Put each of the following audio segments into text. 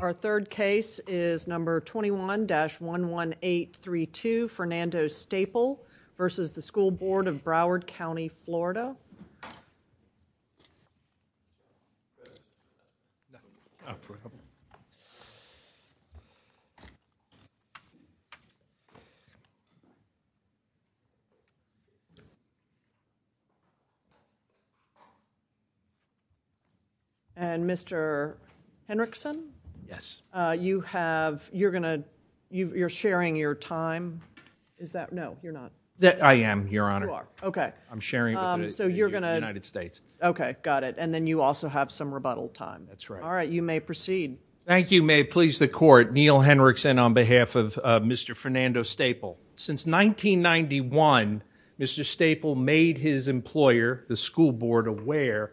Our third case is number 21-11832, Fernando Staple v. The School Board of Broward County, Florida And Mr. Henrickson, you have, you're going to, you're sharing your time, is that, no, you're not. I am, Your Honor. You are, okay. I'm sharing with the United States. Okay, got it. And then you also have some rebuttal time. That's right. All right, you may proceed. Thank you. May it please the Court, Neil Henrickson on behalf of Mr. Fernando Staple. Since 1991, Mr. Staple made his employer, the School Board, aware,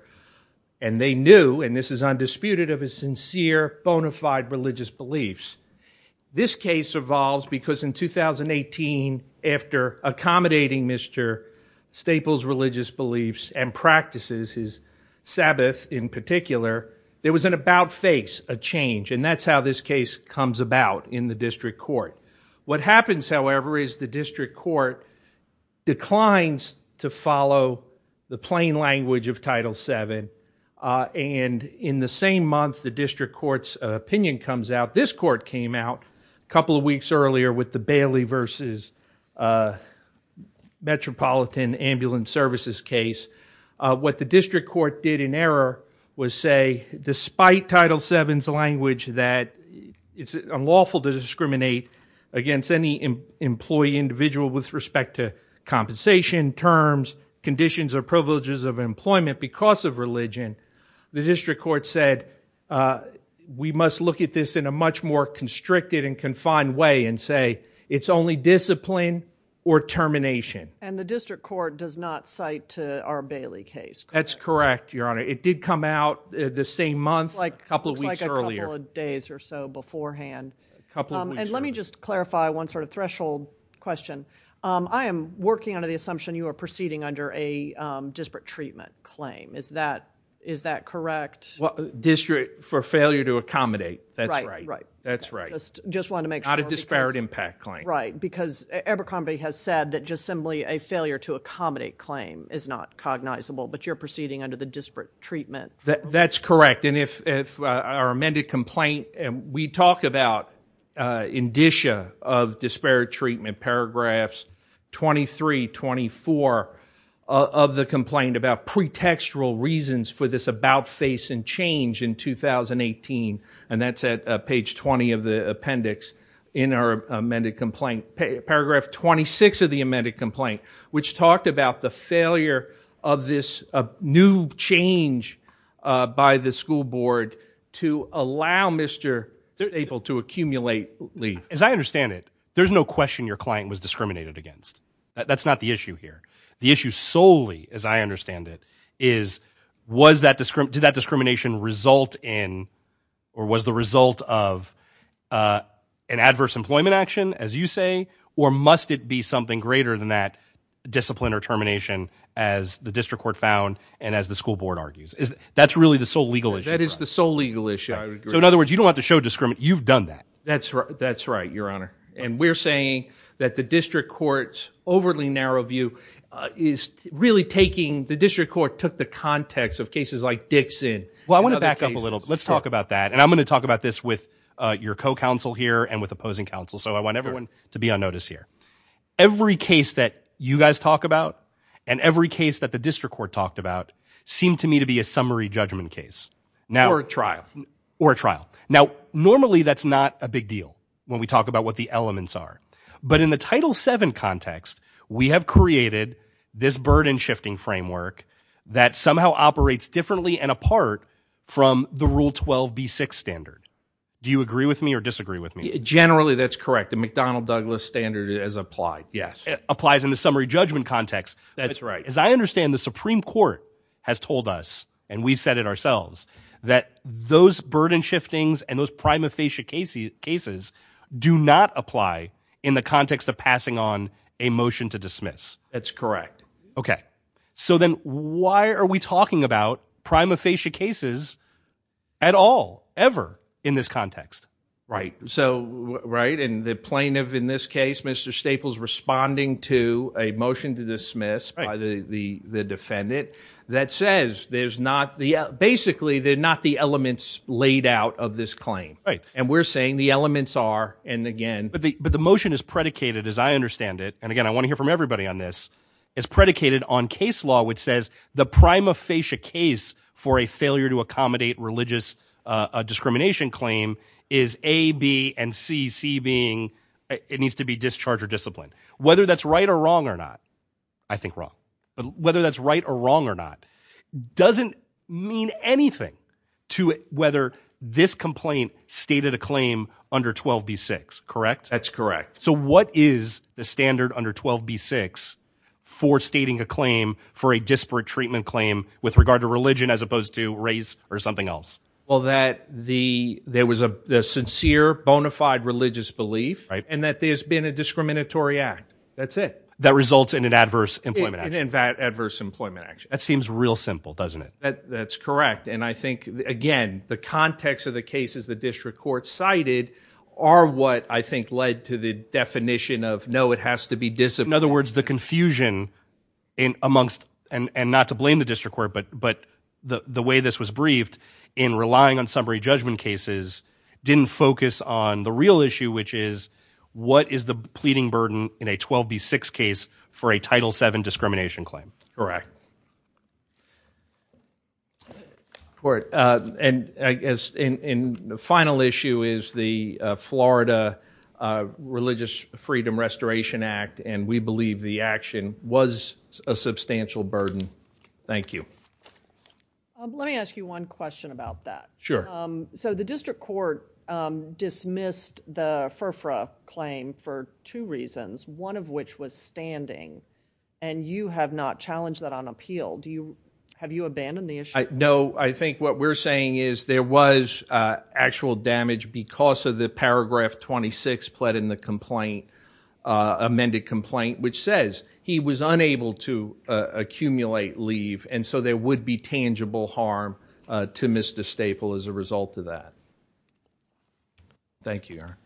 and they knew, and this is undisputed, of his sincere, bona fide religious beliefs. Mr. Staple's religious beliefs and practices, his Sabbath in particular, there was an about-face, a change, and that's how this case comes about in the District Court. What happens, however, is the District Court declines to follow the plain language of Title VII, and in the same month, the District Court's opinion comes out. This Court came out a couple of weeks earlier with the Bailey v. Metropolitan Ambulance Services case. What the District Court did in error was say, despite Title VII's language that it's unlawful to discriminate against any employee, individual, with respect to compensation, terms, conditions or privileges of employment because of religion, the District Court said, we must look at this in a much more constricted and confined way and say, it's only discipline or termination. And the District Court does not cite our Bailey case, correct? That's correct, Your Honor. It did come out the same month, a couple of weeks earlier. It looks like a couple of days or so beforehand, and let me just clarify one sort of threshold question. I am working under the assumption you are proceeding under a disparate treatment claim. Is that correct? District, for failure to accommodate, that's right. That's right. Just wanted to make sure. Not a disparate impact claim. Right. Because Abercrombie has said that just simply a failure to accommodate claim is not cognizable, but you're proceeding under the disparate treatment. That's correct. And if our amended complaint, we talk about indicia of disparate treatment, paragraphs 23, 24 of the complaint about pretextual reasons for this about face and change in 2018, and that's at page 20 of the appendix in our amended complaint, paragraph 26 of the amended complaint, which talked about the failure of this new change by the school board to allow Mr. Staple to accumulate leave. As I understand it, there's no question your client was discriminated against. That's not the issue here. The issue solely, as I understand it, is did that discrimination result in or was the result of an adverse employment action, as you say, or must it be something greater than that discipline or termination as the district court found and as the school board argues? That's really the sole legal issue. That is the sole legal issue. So in other words, you don't want to show discrimination. You've done that. That's right. That's right, Your Honor. And we're saying that the district court's overly narrow view is really taking, the district court took the context of cases like Dixon and other cases. Well, I want to back up a little. Let's talk about that. And I'm going to talk about this with your co-counsel here and with opposing counsel. So I want everyone to be on notice here. Every case that you guys talk about and every case that the district court talked about seemed to me to be a summary judgment case. Or a trial. Or a trial. Now, normally that's not a big deal when we talk about what the elements are. But in the Title VII context, we have created this burden shifting framework that somehow operates differently and apart from the Rule 12b6 standard. Do you agree with me or disagree with me? Generally, that's correct. The McDonnell-Douglas standard is applied. Yes. It applies in the summary judgment context. That's right. As I understand, the Supreme Court has told us, and we've said it ourselves, that those burden shiftings and those prima facie cases do not apply in the context of passing on a motion to dismiss. That's correct. Okay. So then why are we talking about prima facie cases at all, ever, in this context? Right. So, right. And the plaintiff in this case, Mr. Staples, responding to a motion to dismiss by the defendant that says, basically, they're not the elements laid out of this claim. Right. And we're saying the elements are, and again... But the motion is predicated, as I understand it, and again, I want to hear from everybody on this, is predicated on case law, which says the prima facie case for a failure to accommodate religious discrimination claim is A, B, and C, C being, it needs to be discharge or discipline. Whether that's right or wrong or not, I think wrong. Whether that's right or wrong or not, doesn't mean anything to whether this complaint stated a claim under 12B6, correct? That's correct. So what is the standard under 12B6 for stating a claim for a disparate treatment claim with regard to religion, as opposed to race or something else? Well, that there was a sincere, bona fide religious belief, and that there's been a discriminatory act. That's it. That results in an adverse employment action. An adverse employment action. That seems real simple, doesn't it? That's correct. And I think, again, the context of the cases the district court cited are what I think led to the definition of, no, it has to be disciplined. In other words, the confusion amongst, and not to blame the district court, but the way this was briefed in relying on summary judgment cases didn't focus on the real issue, which is, what is the pleading burden in a 12B6 case for a Title VII discrimination claim? Correct. All right, and I guess, and the final issue is the Florida Religious Freedom Restoration Act, and we believe the action was a substantial burden. Thank you. Let me ask you one question about that. Sure. So the district court dismissed the FERFRA claim for two reasons, one of which was standing, and you have not challenged that on appeal. Have you abandoned the issue? No. I think what we're saying is there was actual damage because of the paragraph 26 pled in the complaint, amended complaint, which says he was unable to accumulate leave, and so there would be tangible harm to Mr. Staple as a result of that. Thank you, Your Honor.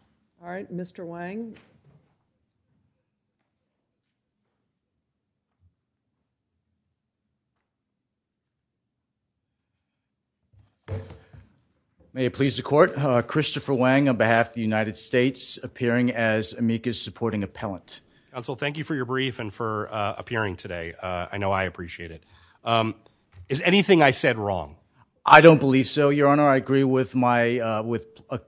All right, Mr. Wang. May it please the court, Christopher Wang on behalf of the United States, appearing as amicus supporting appellant. Counsel, thank you for your brief and for appearing today. I know I appreciate it. Is anything I said wrong? I don't believe so, Your Honor. I agree with my, with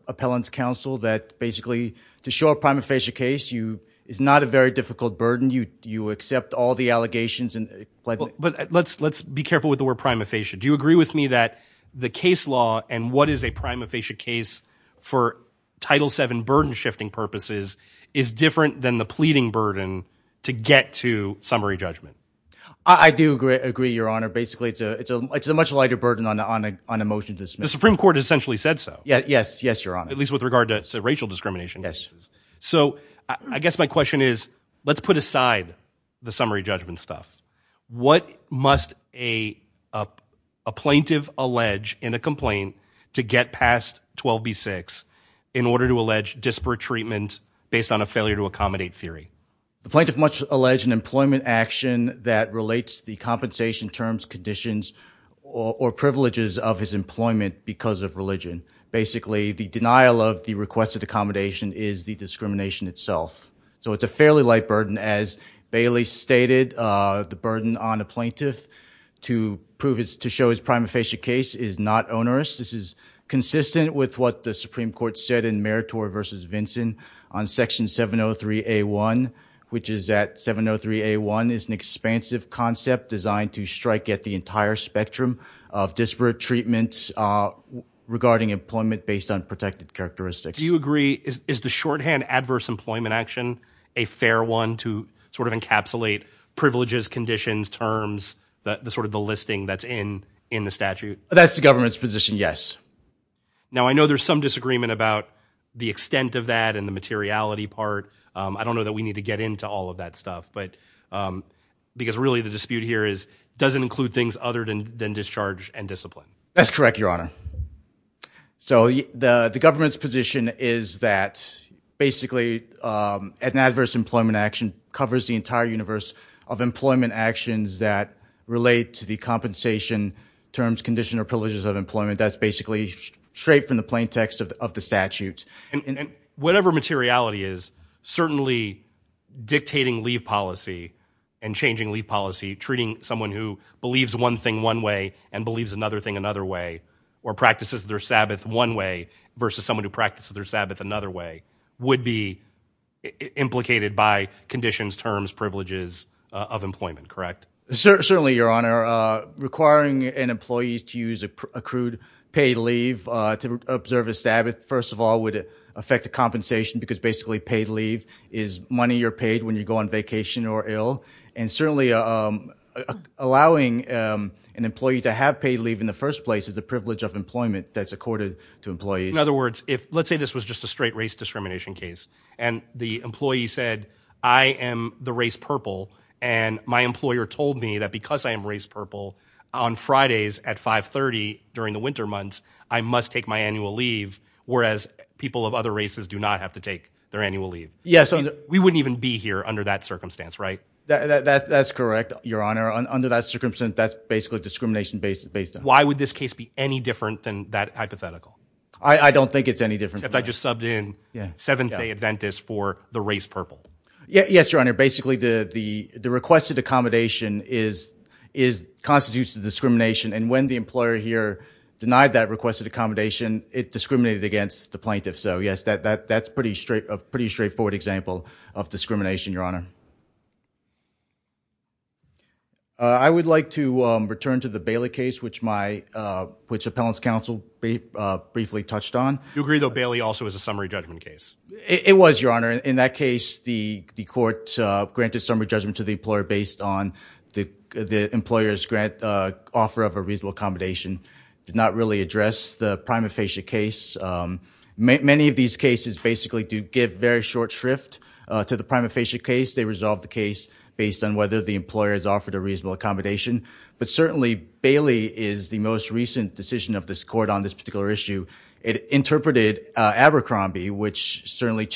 appellant's counsel that basically to show a prima facie case, you, it's not a very difficult burden. You accept all the allegations and- But let's be careful with the word prima facie. Do you agree with me that the case law and what is a prima facie case for Title VII burden shifting purposes is different than the pleading burden to get to summary judgment? I do agree, Your Honor. Basically, it's a much lighter burden on a motion to dismiss. The Supreme Court essentially said so. Yes, Your Honor. At least with regard to racial discrimination. So I guess my question is, let's put aside the summary judgment stuff. What must a plaintiff allege in a complaint to get past 12B6 in order to allege disparate treatment based on a failure to accommodate theory? The plaintiff must allege an employment action that relates the compensation terms, conditions, or privileges of his employment because of religion. Basically, the denial of the requested accommodation is the discrimination itself. So it's a fairly light burden. As Bailey stated, the burden on a plaintiff to prove his- to show his prima facie case is not onerous. This is consistent with what the Supreme Court said in Meritor versus Vinson on Section 703A1, which is that 703A1 is an expansive concept designed to strike at the entire spectrum of disparate treatments regarding employment based on protected characteristics. Do you agree, is the shorthand adverse employment action a fair one to sort of encapsulate privileges, conditions, terms, the sort of the listing that's in the statute? That's the government's position, yes. Now I know there's some disagreement about the extent of that and the materiality part. I don't know that we need to get into all of that stuff, but because really the dispute here is, does it include things other than discharge and discipline? That's correct, Your Honor. So the government's position is that basically an adverse employment action covers the entire universe of employment actions that relate to the compensation terms, condition, or privileges of employment. That's basically straight from the plain text of the statute. Whatever materiality is, certainly dictating leave policy and changing leave policy, treating someone who believes one thing one way and believes another thing another way, or practices their Sabbath one way versus someone who practices their Sabbath another way, would be implicated by conditions, terms, privileges of employment, correct? Certainly, Your Honor. Requiring an employee to use accrued paid leave to observe a Sabbath, first of all, would affect the compensation because basically paid leave is money you're paid when you go on vacation or ill. Certainly, allowing an employee to have paid leave in the first place is a privilege of employment that's accorded to employees. In other words, let's say this was just a straight race discrimination case and the employee said, I am the race purple and my employer told me that because I am race purple on Fridays at 5.30 during the winter months, I must take my annual leave, whereas people of other races do not have to take their annual leave. We wouldn't even be here under that circumstance, right? That's correct, Your Honor. Under that circumstance, that's basically a discrimination based on it. Why would this case be any different than that hypothetical? I don't think it's any different. Except I just subbed in Seventh-day Adventist for the race purple. Yes, Your Honor. Basically, the requested accommodation constitutes the discrimination and when the employer here denied that requested accommodation, it discriminated against the plaintiff. So yes, that's a pretty straightforward example of discrimination, Your Honor. I would like to return to the Bailey case, which my, uh, which appellant's counsel briefly touched on. You agree though, Bailey also is a summary judgment case. It was, Your Honor. In that case, the, the court, uh, granted summary judgment to the employer based on the, the employer's grant, uh, offer of a reasonable accommodation did not really address the prima facie case. Um, many of these cases basically do give very short shrift, uh, to the prima facie case. They resolve the case based on whether the employer has offered a reasonable accommodation, but certainly Bailey is the most recent decision of this court on this particular issue. It interpreted, uh, Abercrombie, which certainly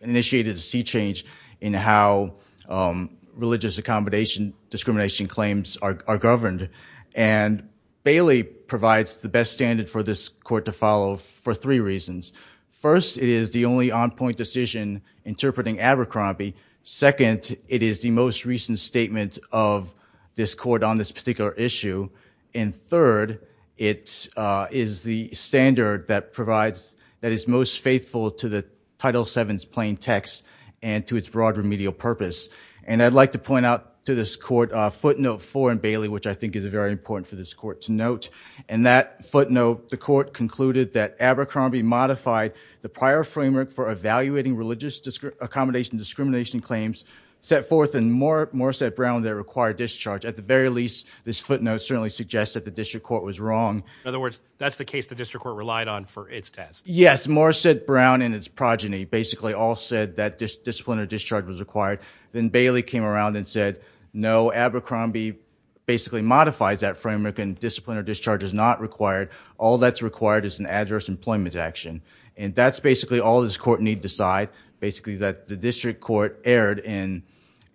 initiated a sea change in how, um, religious accommodation discrimination claims are, are governed. And Bailey provides the best standard for this court to follow for three reasons. First, it is the only on-point decision interpreting Abercrombie. Second, it is the most recent statement of this court on this particular issue. And third, it, uh, is the standard that provides, that is most faithful to the Title VII's plain text and to its broad remedial purpose. And I'd like to point out to this court, uh, footnote four in Bailey, which I think is a very important for this court to note. And that footnote, the court concluded that Abercrombie modified the prior framework for evaluating religious accommodation discrimination claims set forth in Morrissette Brown that required discharge. At the very least, this footnote certainly suggests that the district court was wrong. In other words, that's the case the district court relied on for its test. Yes. Morrissette Brown and its progeny basically all said that disciplinary discharge was required. Then Bailey came around and said, no, Abercrombie basically modifies that framework and disciplinary discharge is not required. All that's required is an adverse employment action. And that's basically all this court need decide. Basically that the district court erred in,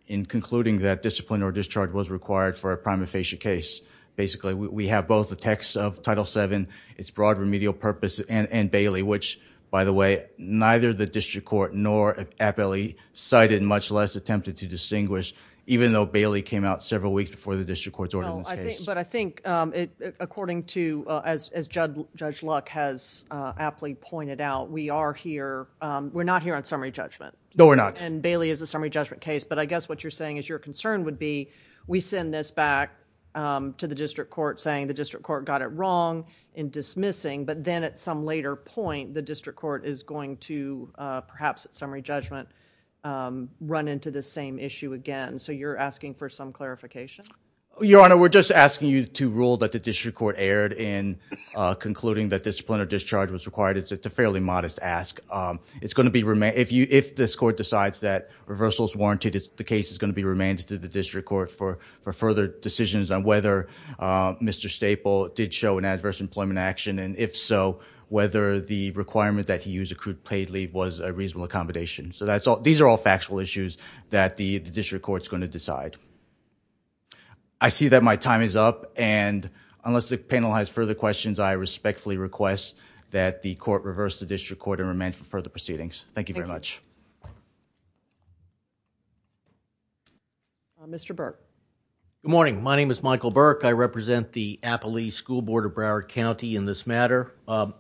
in concluding that discipline or discharge was required for a prima facie case. Basically, we have both the texts of Title VII, its broad remedial purpose and, and Bailey, which by the way, neither the district court nor Appellee cited, much less attempted to distinguish even though Bailey came out several weeks before the district court's ordinance case. But I think, um, it, according to, uh, as, as Judd, Judge Luck has, uh, Appley pointed out, we are here, um, we're not here on summary judgment. No, we're not. And Bailey is a summary judgment case. But I guess what you're saying is your concern would be, we send this back, um, to the district court saying the district court got it wrong in dismissing, but then at some later point, the district court is going to, uh, perhaps at summary judgment, um, run into the same issue again. So you're asking for some clarification? Your Honor, we're just asking you to rule that the district court erred in, uh, concluding that disciplinary discharge was required. It's a fairly modest ask. Um, it's going to be remanded if you, if this court decides that reversal is warranted, it's the case is going to be remanded to the district court for, for further decisions on whether, uh, Mr. Staple did show an adverse employment action. And if so, whether the requirement that he used accrued paid leave was a reasonable accommodation. So that's all, these are all factual issues that the district court is going to decide. I see that my time is up and unless the panel has further questions, I respectfully request that the court reverse the district court and remand for further proceedings. Thank you very much. Thank you. Uh, Mr. Burke. Good morning. My name is Michael Burke. I represent the Appalachee School Board of Broward County in this matter. Um,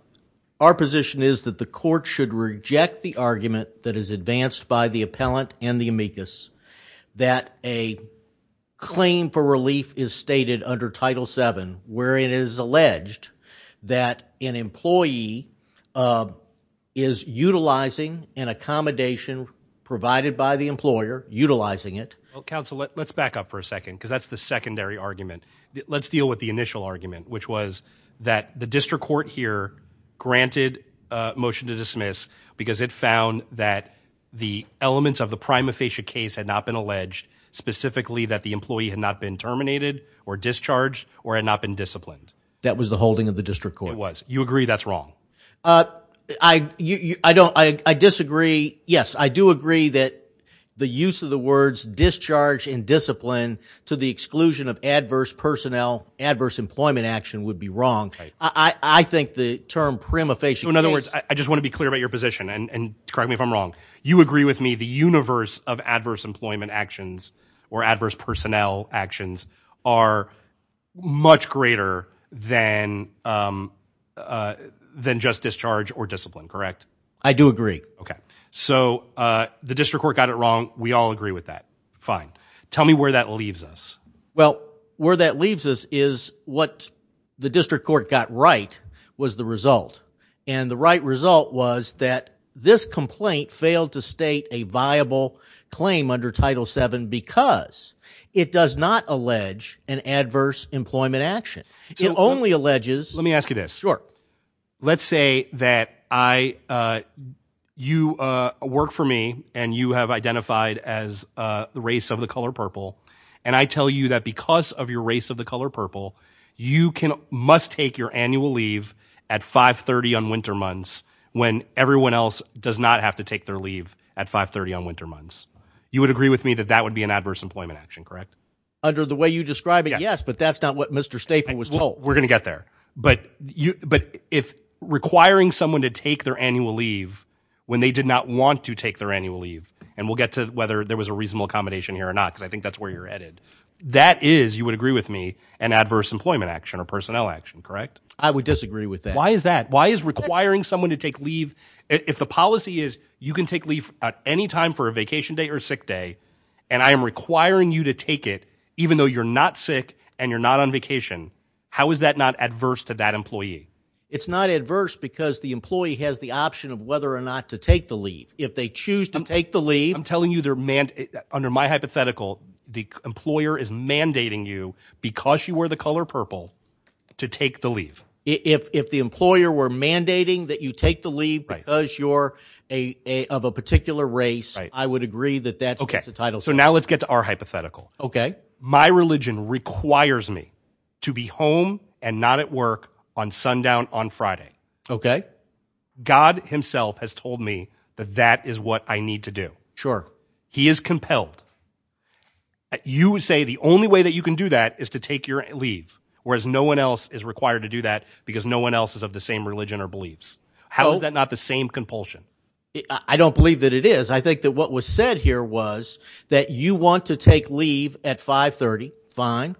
our position is that the court should reject the argument that is advanced by the appellant and the amicus that a claim for relief is stated under Title VII, where it is alleged that an employee, uh, is utilizing an accommodation provided by the employer, utilizing it. Well, counsel, let's back up for a second because that's the secondary argument. Let's deal with the initial argument, which was that the district court here granted a motion to dismiss because it found that the elements of the prima facie case had not been alleged specifically that the employee had not been terminated or discharged or had not been disciplined. That was the holding of the district court. It was. You agree that's wrong. Uh, I, you, I don't, I, I disagree. Yes, I do agree that the use of the words discharge and discipline to the exclusion of adverse personnel, adverse employment action would be wrong. I think the term prima facie, in other words, I just want to be clear about your position and correct me if I'm wrong. You agree with me. The universe of adverse employment actions or adverse personnel actions are much greater than, um, uh, than just discharge or discipline, correct? I do agree. Okay. So, uh, the district court got it wrong. We all agree with that. Fine. Tell me where that leaves us. Well, where that leaves us is what the district court got right was the result and the right result was that this complaint failed to state a viable claim under title seven because it does not allege an adverse employment action. It only alleges, let me ask you this short, let's say that I, uh, you, uh, work for me and you have identified as a race of the color purple. And I tell you that because of your race of the color purple, you can, must take your annual leave at five 30 on winter months when everyone else does not have to take their leave at five 30 on winter months. You would agree with me that that would be an adverse employment action, correct? Under the way you describe it. Yes. But that's not what Mr. Staple was told. We're going to get there, but you, but if requiring someone to take their annual leave when they did not want to take their annual leave and we'll get to whether there was a reasonable accommodation here or not, because I think that's where you're at it. That is, you would agree with me and adverse employment action or personnel action, correct? I would disagree with that. Why is that? Why is requiring someone to take leave? If the policy is you can take leave at any time for a vacation day or sick day and I am requiring you to take it even though you're not sick and you're not on vacation, how is that not adverse to that employee? It's not adverse because the employee has the option of whether or not to take the leave. If they choose to take the leave, I'm telling you they're manned under my hypothetical, the employer is mandating you because you were the color purple to take the leave. If the employer were mandating that you take the leave because you're a of a particular race, I would agree that that's a title. So now let's get to our hypothetical. Okay. My religion requires me to be home and not at work on sundown on Friday. Okay. God himself has told me that that is what I need to do. Sure. He is compelled. You would say the only way that you can do that is to take your leave, whereas no one else is required to do that because no one else is of the same religion or beliefs. How is that not the same compulsion? I don't believe that it is. I think that what was said here was that you want to take leave at five 30. Fine.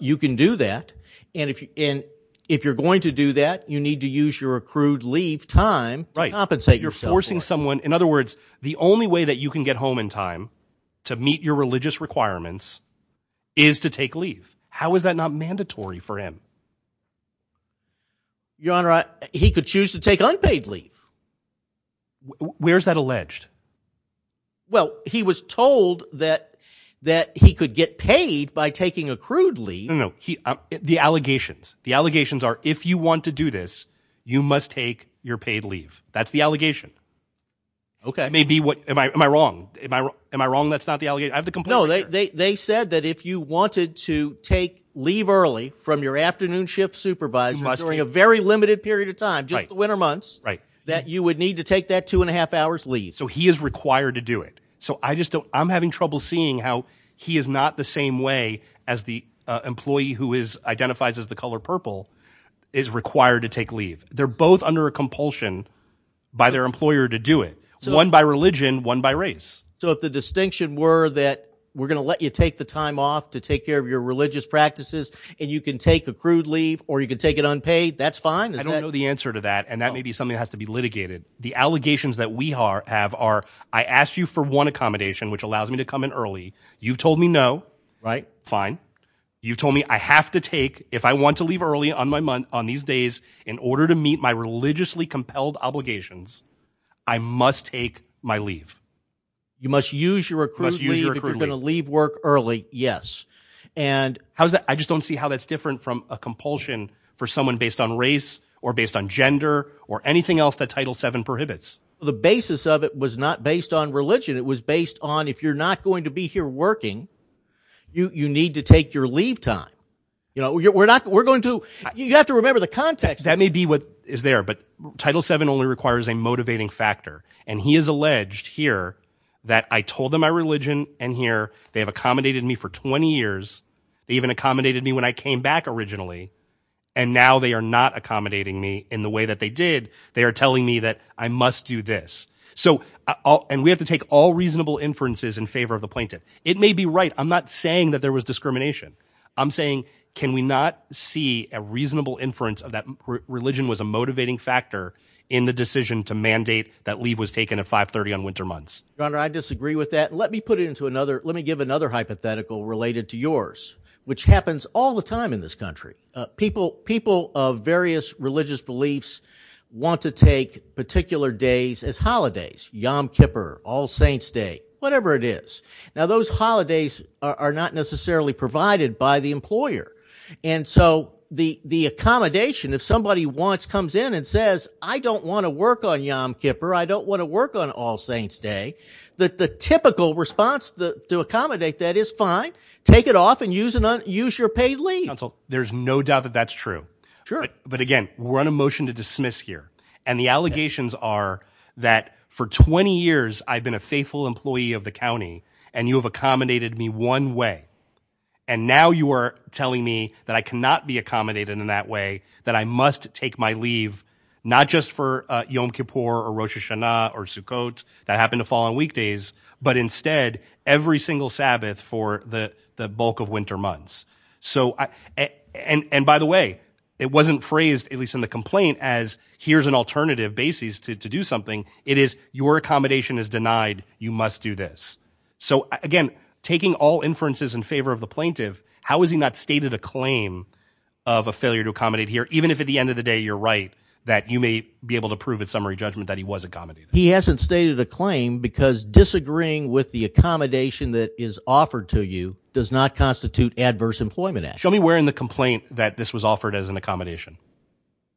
You can do that. And if, and if you're going to do that, you need to use your accrued leave time to compensate yourself. You're forcing someone. In other words, the only way that you can get home in time to meet your religious requirements is to take leave. How is that not mandatory for him? Your honor, he could choose to take unpaid leave. Where's that alleged? Well, he was told that, that he could get paid by taking accrued leave. No, he, the allegations, the allegations are, if you want to do this, you must take your paid leave. That's the allegation. Okay. Maybe what am I, am I wrong? Am I wrong? Am I wrong? That's not the allegation. I have the complaint right here. No, they, they, they said that if you wanted to take leave early from your afternoon shift supervisor during a very limited period of time, just the winter months that you would need to take that two and a half hours leave. So he is required to do it. So I just don't, I'm having trouble seeing how he is not the same way as the employee who is identifies as the color purple is required to take leave. They're both under a compulsion by their employer to do it. One by religion, one by race. So if the distinction were that we're going to let you take the time off to take care of your religious practices and you can take a crude leave or you can take it unpaid. That's fine. I don't know the answer to that. And that may be something that has to be litigated. The allegations that we are have are, I asked you for one accommodation, which allows me to come in early. You've told me no, right? Fine. You told me I have to take, if I want to leave early on my month on these days in order to meet my religiously compelled obligations, I must take my leave. You must use your accrued leave if you're going to leave work early. Yes. And how's that? I just don't see how that's different from a compulsion for someone based on race or based on gender or anything else that title seven prohibits. The basis of it was not based on religion. It was based on if you're not going to be here working, you need to take your leave time. You know, we're not, we're going to, you have to remember the context. That may be what is there, but title seven only requires a motivating factor. And he is alleged here that I told them my religion and here they have accommodated me for 20 years, even accommodated me when I came back originally. And now they are not accommodating me in the way that they did. They are telling me that I must do this. So I'll, and we have to take all reasonable inferences in favor of the plaintiff. It may be right. I'm not saying that there was discrimination. I'm saying, can we not see a reasonable inference of that religion was a motivating factor in the decision to mandate that leave was taken at five 30 on winter months. I disagree with that. Let me put it into another, let me give another hypothetical related to yours, which happens all the time in this country. Uh, people, people of various religious beliefs want to take particular days as holidays. Yom Kippur, all saints day, whatever it is. Now those holidays are not necessarily provided by the employer. And so the, the accommodation, if somebody wants, comes in and says, I don't want to work on Yom Kippur, I don't want to work on all saints day, that the typical response to accommodate that is fine. Take it off and use it on, use your paid leave. There's no doubt that that's true, but again, we're on a motion to dismiss here and the allegations are that for 20 years I've been a faithful employee of the county and you have accommodated me one way. And now you are telling me that I cannot be accommodated in that way, that I must take my leave, not just for Yom Kippur or Rosh Hashanah or Sukkot that happened to fall on weekdays, but instead every single Sabbath for the bulk of winter months. So I, and, and by the way, it wasn't phrased, at least in the complaint as here's an alternative basis to do something. It is your accommodation is denied. You must do this. So again, taking all inferences in favor of the plaintiff, how is he not stated a claim of a failure to accommodate here, even if at the end of the day you're right, that you may be able to prove at summary judgment that he was accommodated? He hasn't stated a claim because disagreeing with the accommodation that is offered to you does not constitute adverse employment action. Show me where in the complaint that this was offered as an accommodation.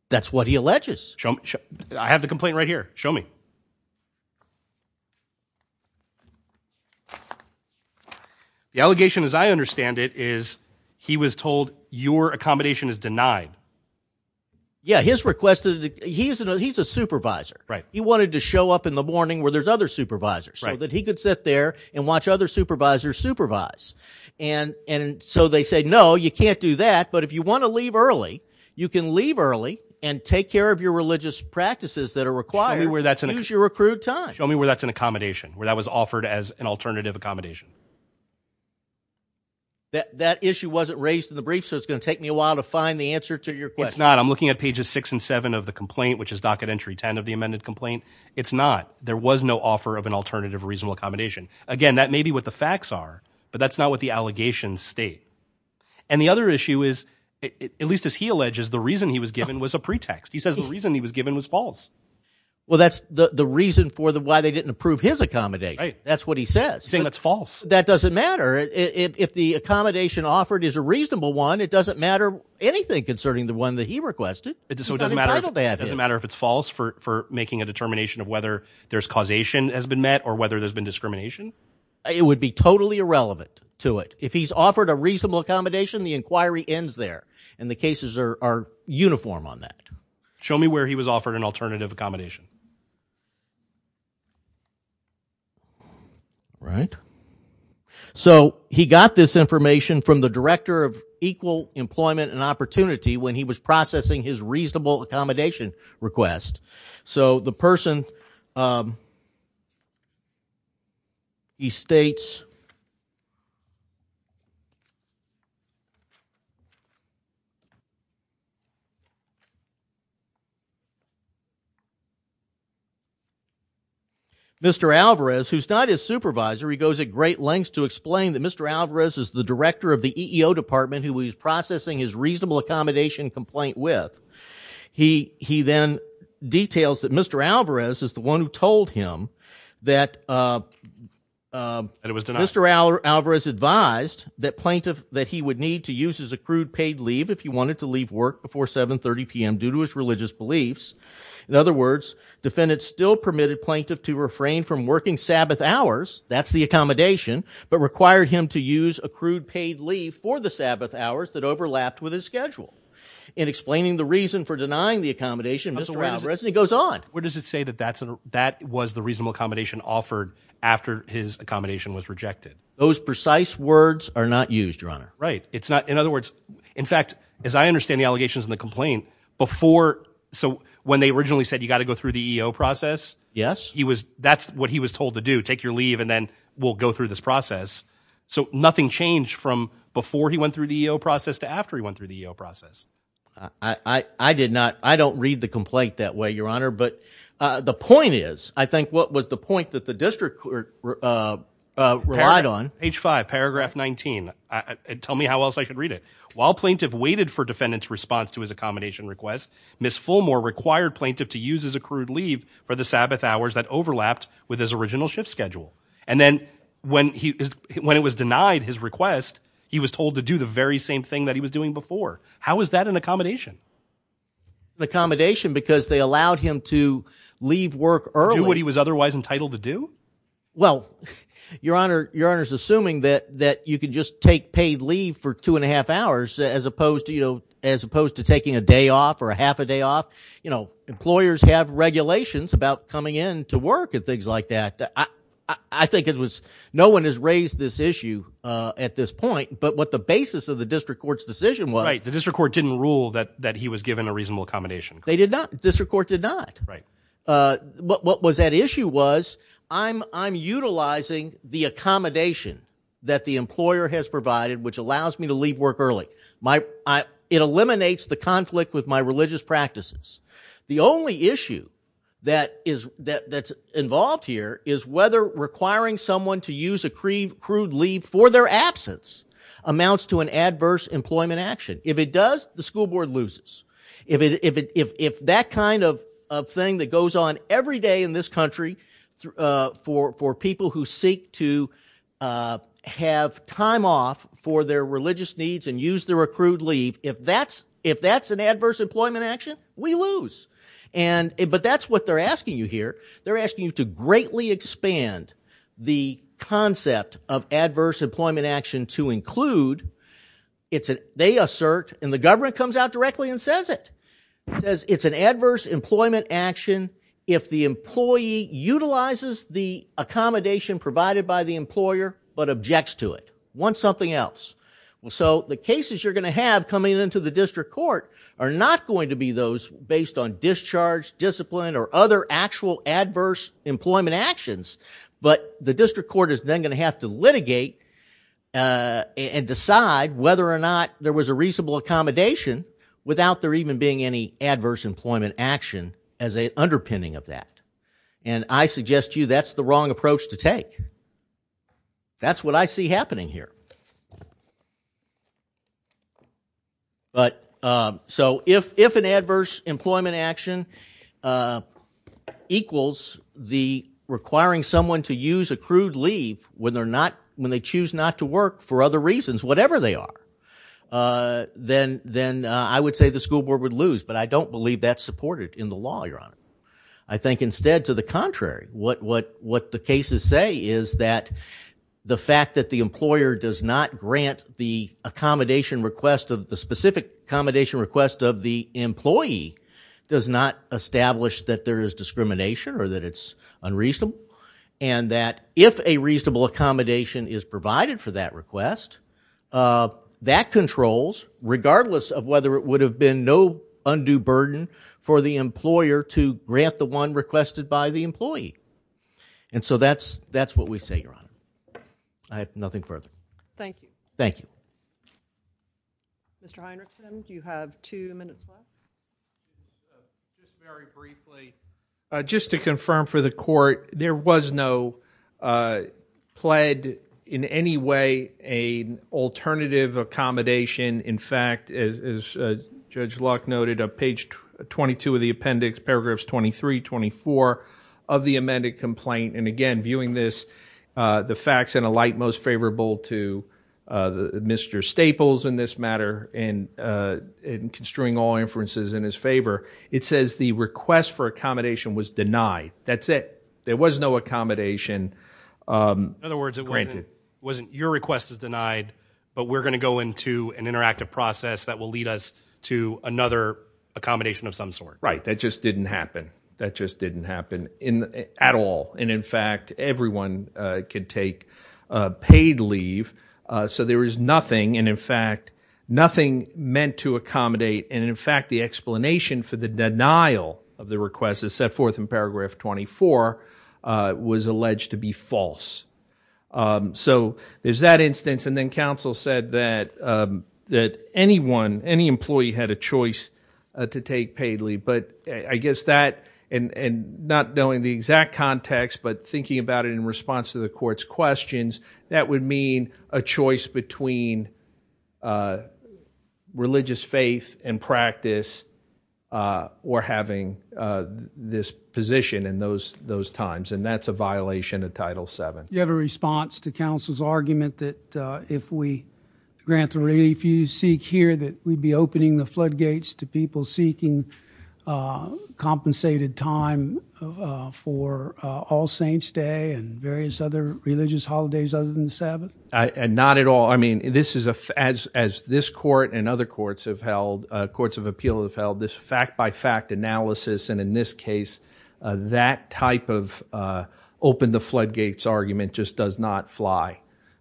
That's what he alleges. Show me. I have the complaint right here. Show me. The allegation, as I understand it, is he was told your accommodation is denied. Yeah, his request, he's a supervisor. He wanted to show up in the morning where there's other supervisors so that he could sit there and watch other supervisors supervise. And so they said, no, you can't do that. But if you want to leave early, you can leave early and take care of your religious practices that are required. Choose your accrued time. Show me where that's an accommodation, where that was offered as an alternative accommodation. That issue wasn't raised in the brief, so it's going to take me a while to find the answer to your question. It's not. I'm looking at pages 6 and 7 of the complaint, which is docket entry 10 of the amended complaint. It's not. There was no offer of an alternative reasonable accommodation. Again, that may be what the facts are, but that's not what the allegations state. And the other issue is, at least as he alleges, the reason he was given was a pretext. He says the reason he was given was false. Well, that's the reason for why they didn't approve his accommodation. That's what he says. Saying that's false. That doesn't matter. If the accommodation offered is a reasonable one, it doesn't matter anything concerning the one that he requested. It doesn't matter if it's false for making a determination of whether there's causation has been met or whether there's been discrimination. It would be totally irrelevant to it. If he's offered a reasonable accommodation, the inquiry ends there. And the cases are uniform on that. Show me where he was offered an alternative accommodation. Right. So he got this information from the director of equal employment and opportunity when he was processing his reasonable accommodation request. So the person, he states, Mr. Alvarez, who's not his supervisor, he goes at great lengths to explain that Mr. Alvarez is the director of the EEO department who he's processing his reasonable accommodation complaint with. He then details that Mr. Alvarez is the one who told him that Mr. Alvarez advised that plaintiff that he would need to use his accrued paid leave if he wanted to leave work before 730 p.m. due to his religious beliefs. In other words, defendants still permitted plaintiff to refrain from working Sabbath hours, that's the accommodation, but required him to use accrued paid leave for the Sabbath hours that overlapped with his schedule. In explaining the reason for denying the accommodation, Mr. Alvarez, and he goes on. Where does it say that that was the reasonable accommodation offered after his accommodation was rejected? Those precise words are not used, Your Honor. Right. In other words, in fact, as I understand the allegations in the complaint, before, so when they originally said you got to go through the EEO process, he was, that's what he was told to do. Take your leave and then we'll go through this process. So nothing changed from before he went through the EEO process to after he went through the EEO process. I, I, I did not, I don't read the complaint that way, Your Honor, but, uh, the point is, I think what was the point that the district court, uh, uh, relied on. H5 paragraph 19. Tell me how else I should read it. While plaintiff waited for defendant's response to his accommodation request, Ms. Fulmore required plaintiff to use his accrued leave for the Sabbath hours that overlapped with his original shift schedule. And then when he, when it was denied his request, he was told to do the very same thing that he was doing before. How is that an accommodation? Accommodation because they allowed him to leave work early. Do what he was otherwise entitled to do? Well, Your Honor, Your Honor's assuming that, that you can just take paid leave for two and a half hours as opposed to, you know, as opposed to taking a day off or a half a day off. You know, employers have regulations about coming in to work and things like that. I, I think it was, no one has raised this issue, uh, at this point, but what the basis of the district court's decision was. Right. The district court didn't rule that, that he was given a reasonable accommodation. They did not. District court did not. Right. Uh, what, what was at issue was, I'm, I'm utilizing the accommodation that the employer has provided, which allows me to leave work early. My, I, it eliminates the conflict with my religious practices. The only issue that is, that, that's involved here is whether requiring someone to use accrued leave for their absence amounts to an adverse employment action. If it does, the school board loses. If it, if it, if that kind of, of thing that goes on every day in this country, uh, for, for people who seek to, uh, have time off for their religious needs and use their accrued leave, if that's, if that's an adverse employment action, we lose. And it, but that's what they're asking you here. They're asking you to greatly expand the concept of adverse employment action to include, it's an, they assert, and the government comes out directly and says it, says it's an adverse employment action if the employee utilizes the accommodation provided by the employer but objects to it, wants something else. Well, so the cases you're going to have coming into the district court are not going to be those based on discharge, discipline, or other actual adverse employment actions. But the district court is then going to have to litigate, uh, and decide whether or not there was a reasonable accommodation without there even being any adverse employment action as an underpinning of that. And I suggest to you that's the wrong approach to take. That's what I see happening here. But, um, so if, if an adverse employment action, uh, equals the requiring someone to use accrued leave when they're not, when they choose not to work for other reasons, whatever they are, uh, then, then, uh, I would say the school board would lose. But I don't believe that's supported in the law, Your Honor. I think instead, to the contrary, what, what, what the cases say is that the fact that the employer does not grant the accommodation request of the specific accommodation request of the employee does not establish that there is discrimination or that it's unreasonable. And that if a reasonable accommodation is provided for that request, uh, that controls regardless of whether it would have been no undue burden for the employer to grant the one requested by the employee. And so that's, that's what we say, Your Honor. Thank you. I have nothing further. Thank you. Thank you. Mr. Heinrichson, do you have two minutes left? Just very briefly, uh, just to confirm for the Court, there was no, uh, pled in any way a alternative accommodation. In fact, as, as, uh, Judge Locke noted on page 22 of the appendix, paragraphs 23, 24 of the amended complaint. And again, viewing this, uh, the facts in a light most favorable to, uh, Mr. Staples in this matter and, uh, in construing all inferences in his favor, it says the request for accommodation was denied. That's it. There was no accommodation, um, granted wasn't your request is denied, but we're going to go into an interactive process that will lead us to another accommodation of some sort, right? That just didn't happen. Yeah. That just didn't happen in, at all. And in fact, everyone, uh, could take, uh, paid leave, uh, so there is nothing. And in fact, nothing meant to accommodate and in fact, the explanation for the denial of the request is set forth in paragraph 24, uh, was alleged to be false. Um, so there's that instance. And then counsel said that, um, that anyone, any employee had a choice to take paid leave. But I guess that, and, and not knowing the exact context, but thinking about it in response to the court's questions, that would mean a choice between, uh, religious faith and practice, uh, or having, uh, this position in those, those times. And that's a violation of title seven. You have a response to counsel's argument that, uh, if we grant the relief you seek here, that we'd be opening the floodgates to people seeking, uh, compensated time, uh, for, uh, All Saints Day and various other religious holidays other than the Sabbath? And not at all. I mean, this is a, as, as this court and other courts have held, uh, courts of appeal have held this fact by fact analysis, and in this case, uh, that type of, uh, open the floodgates argument just does not fly,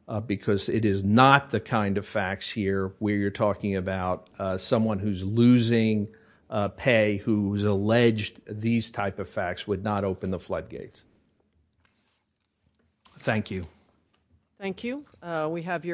uh, because it is not the kind of facts here where you're talking about, uh, someone who's losing, uh, pay who's alleged these type of facts would not open the floodgates. Thank you. Thank you. Uh, we have your...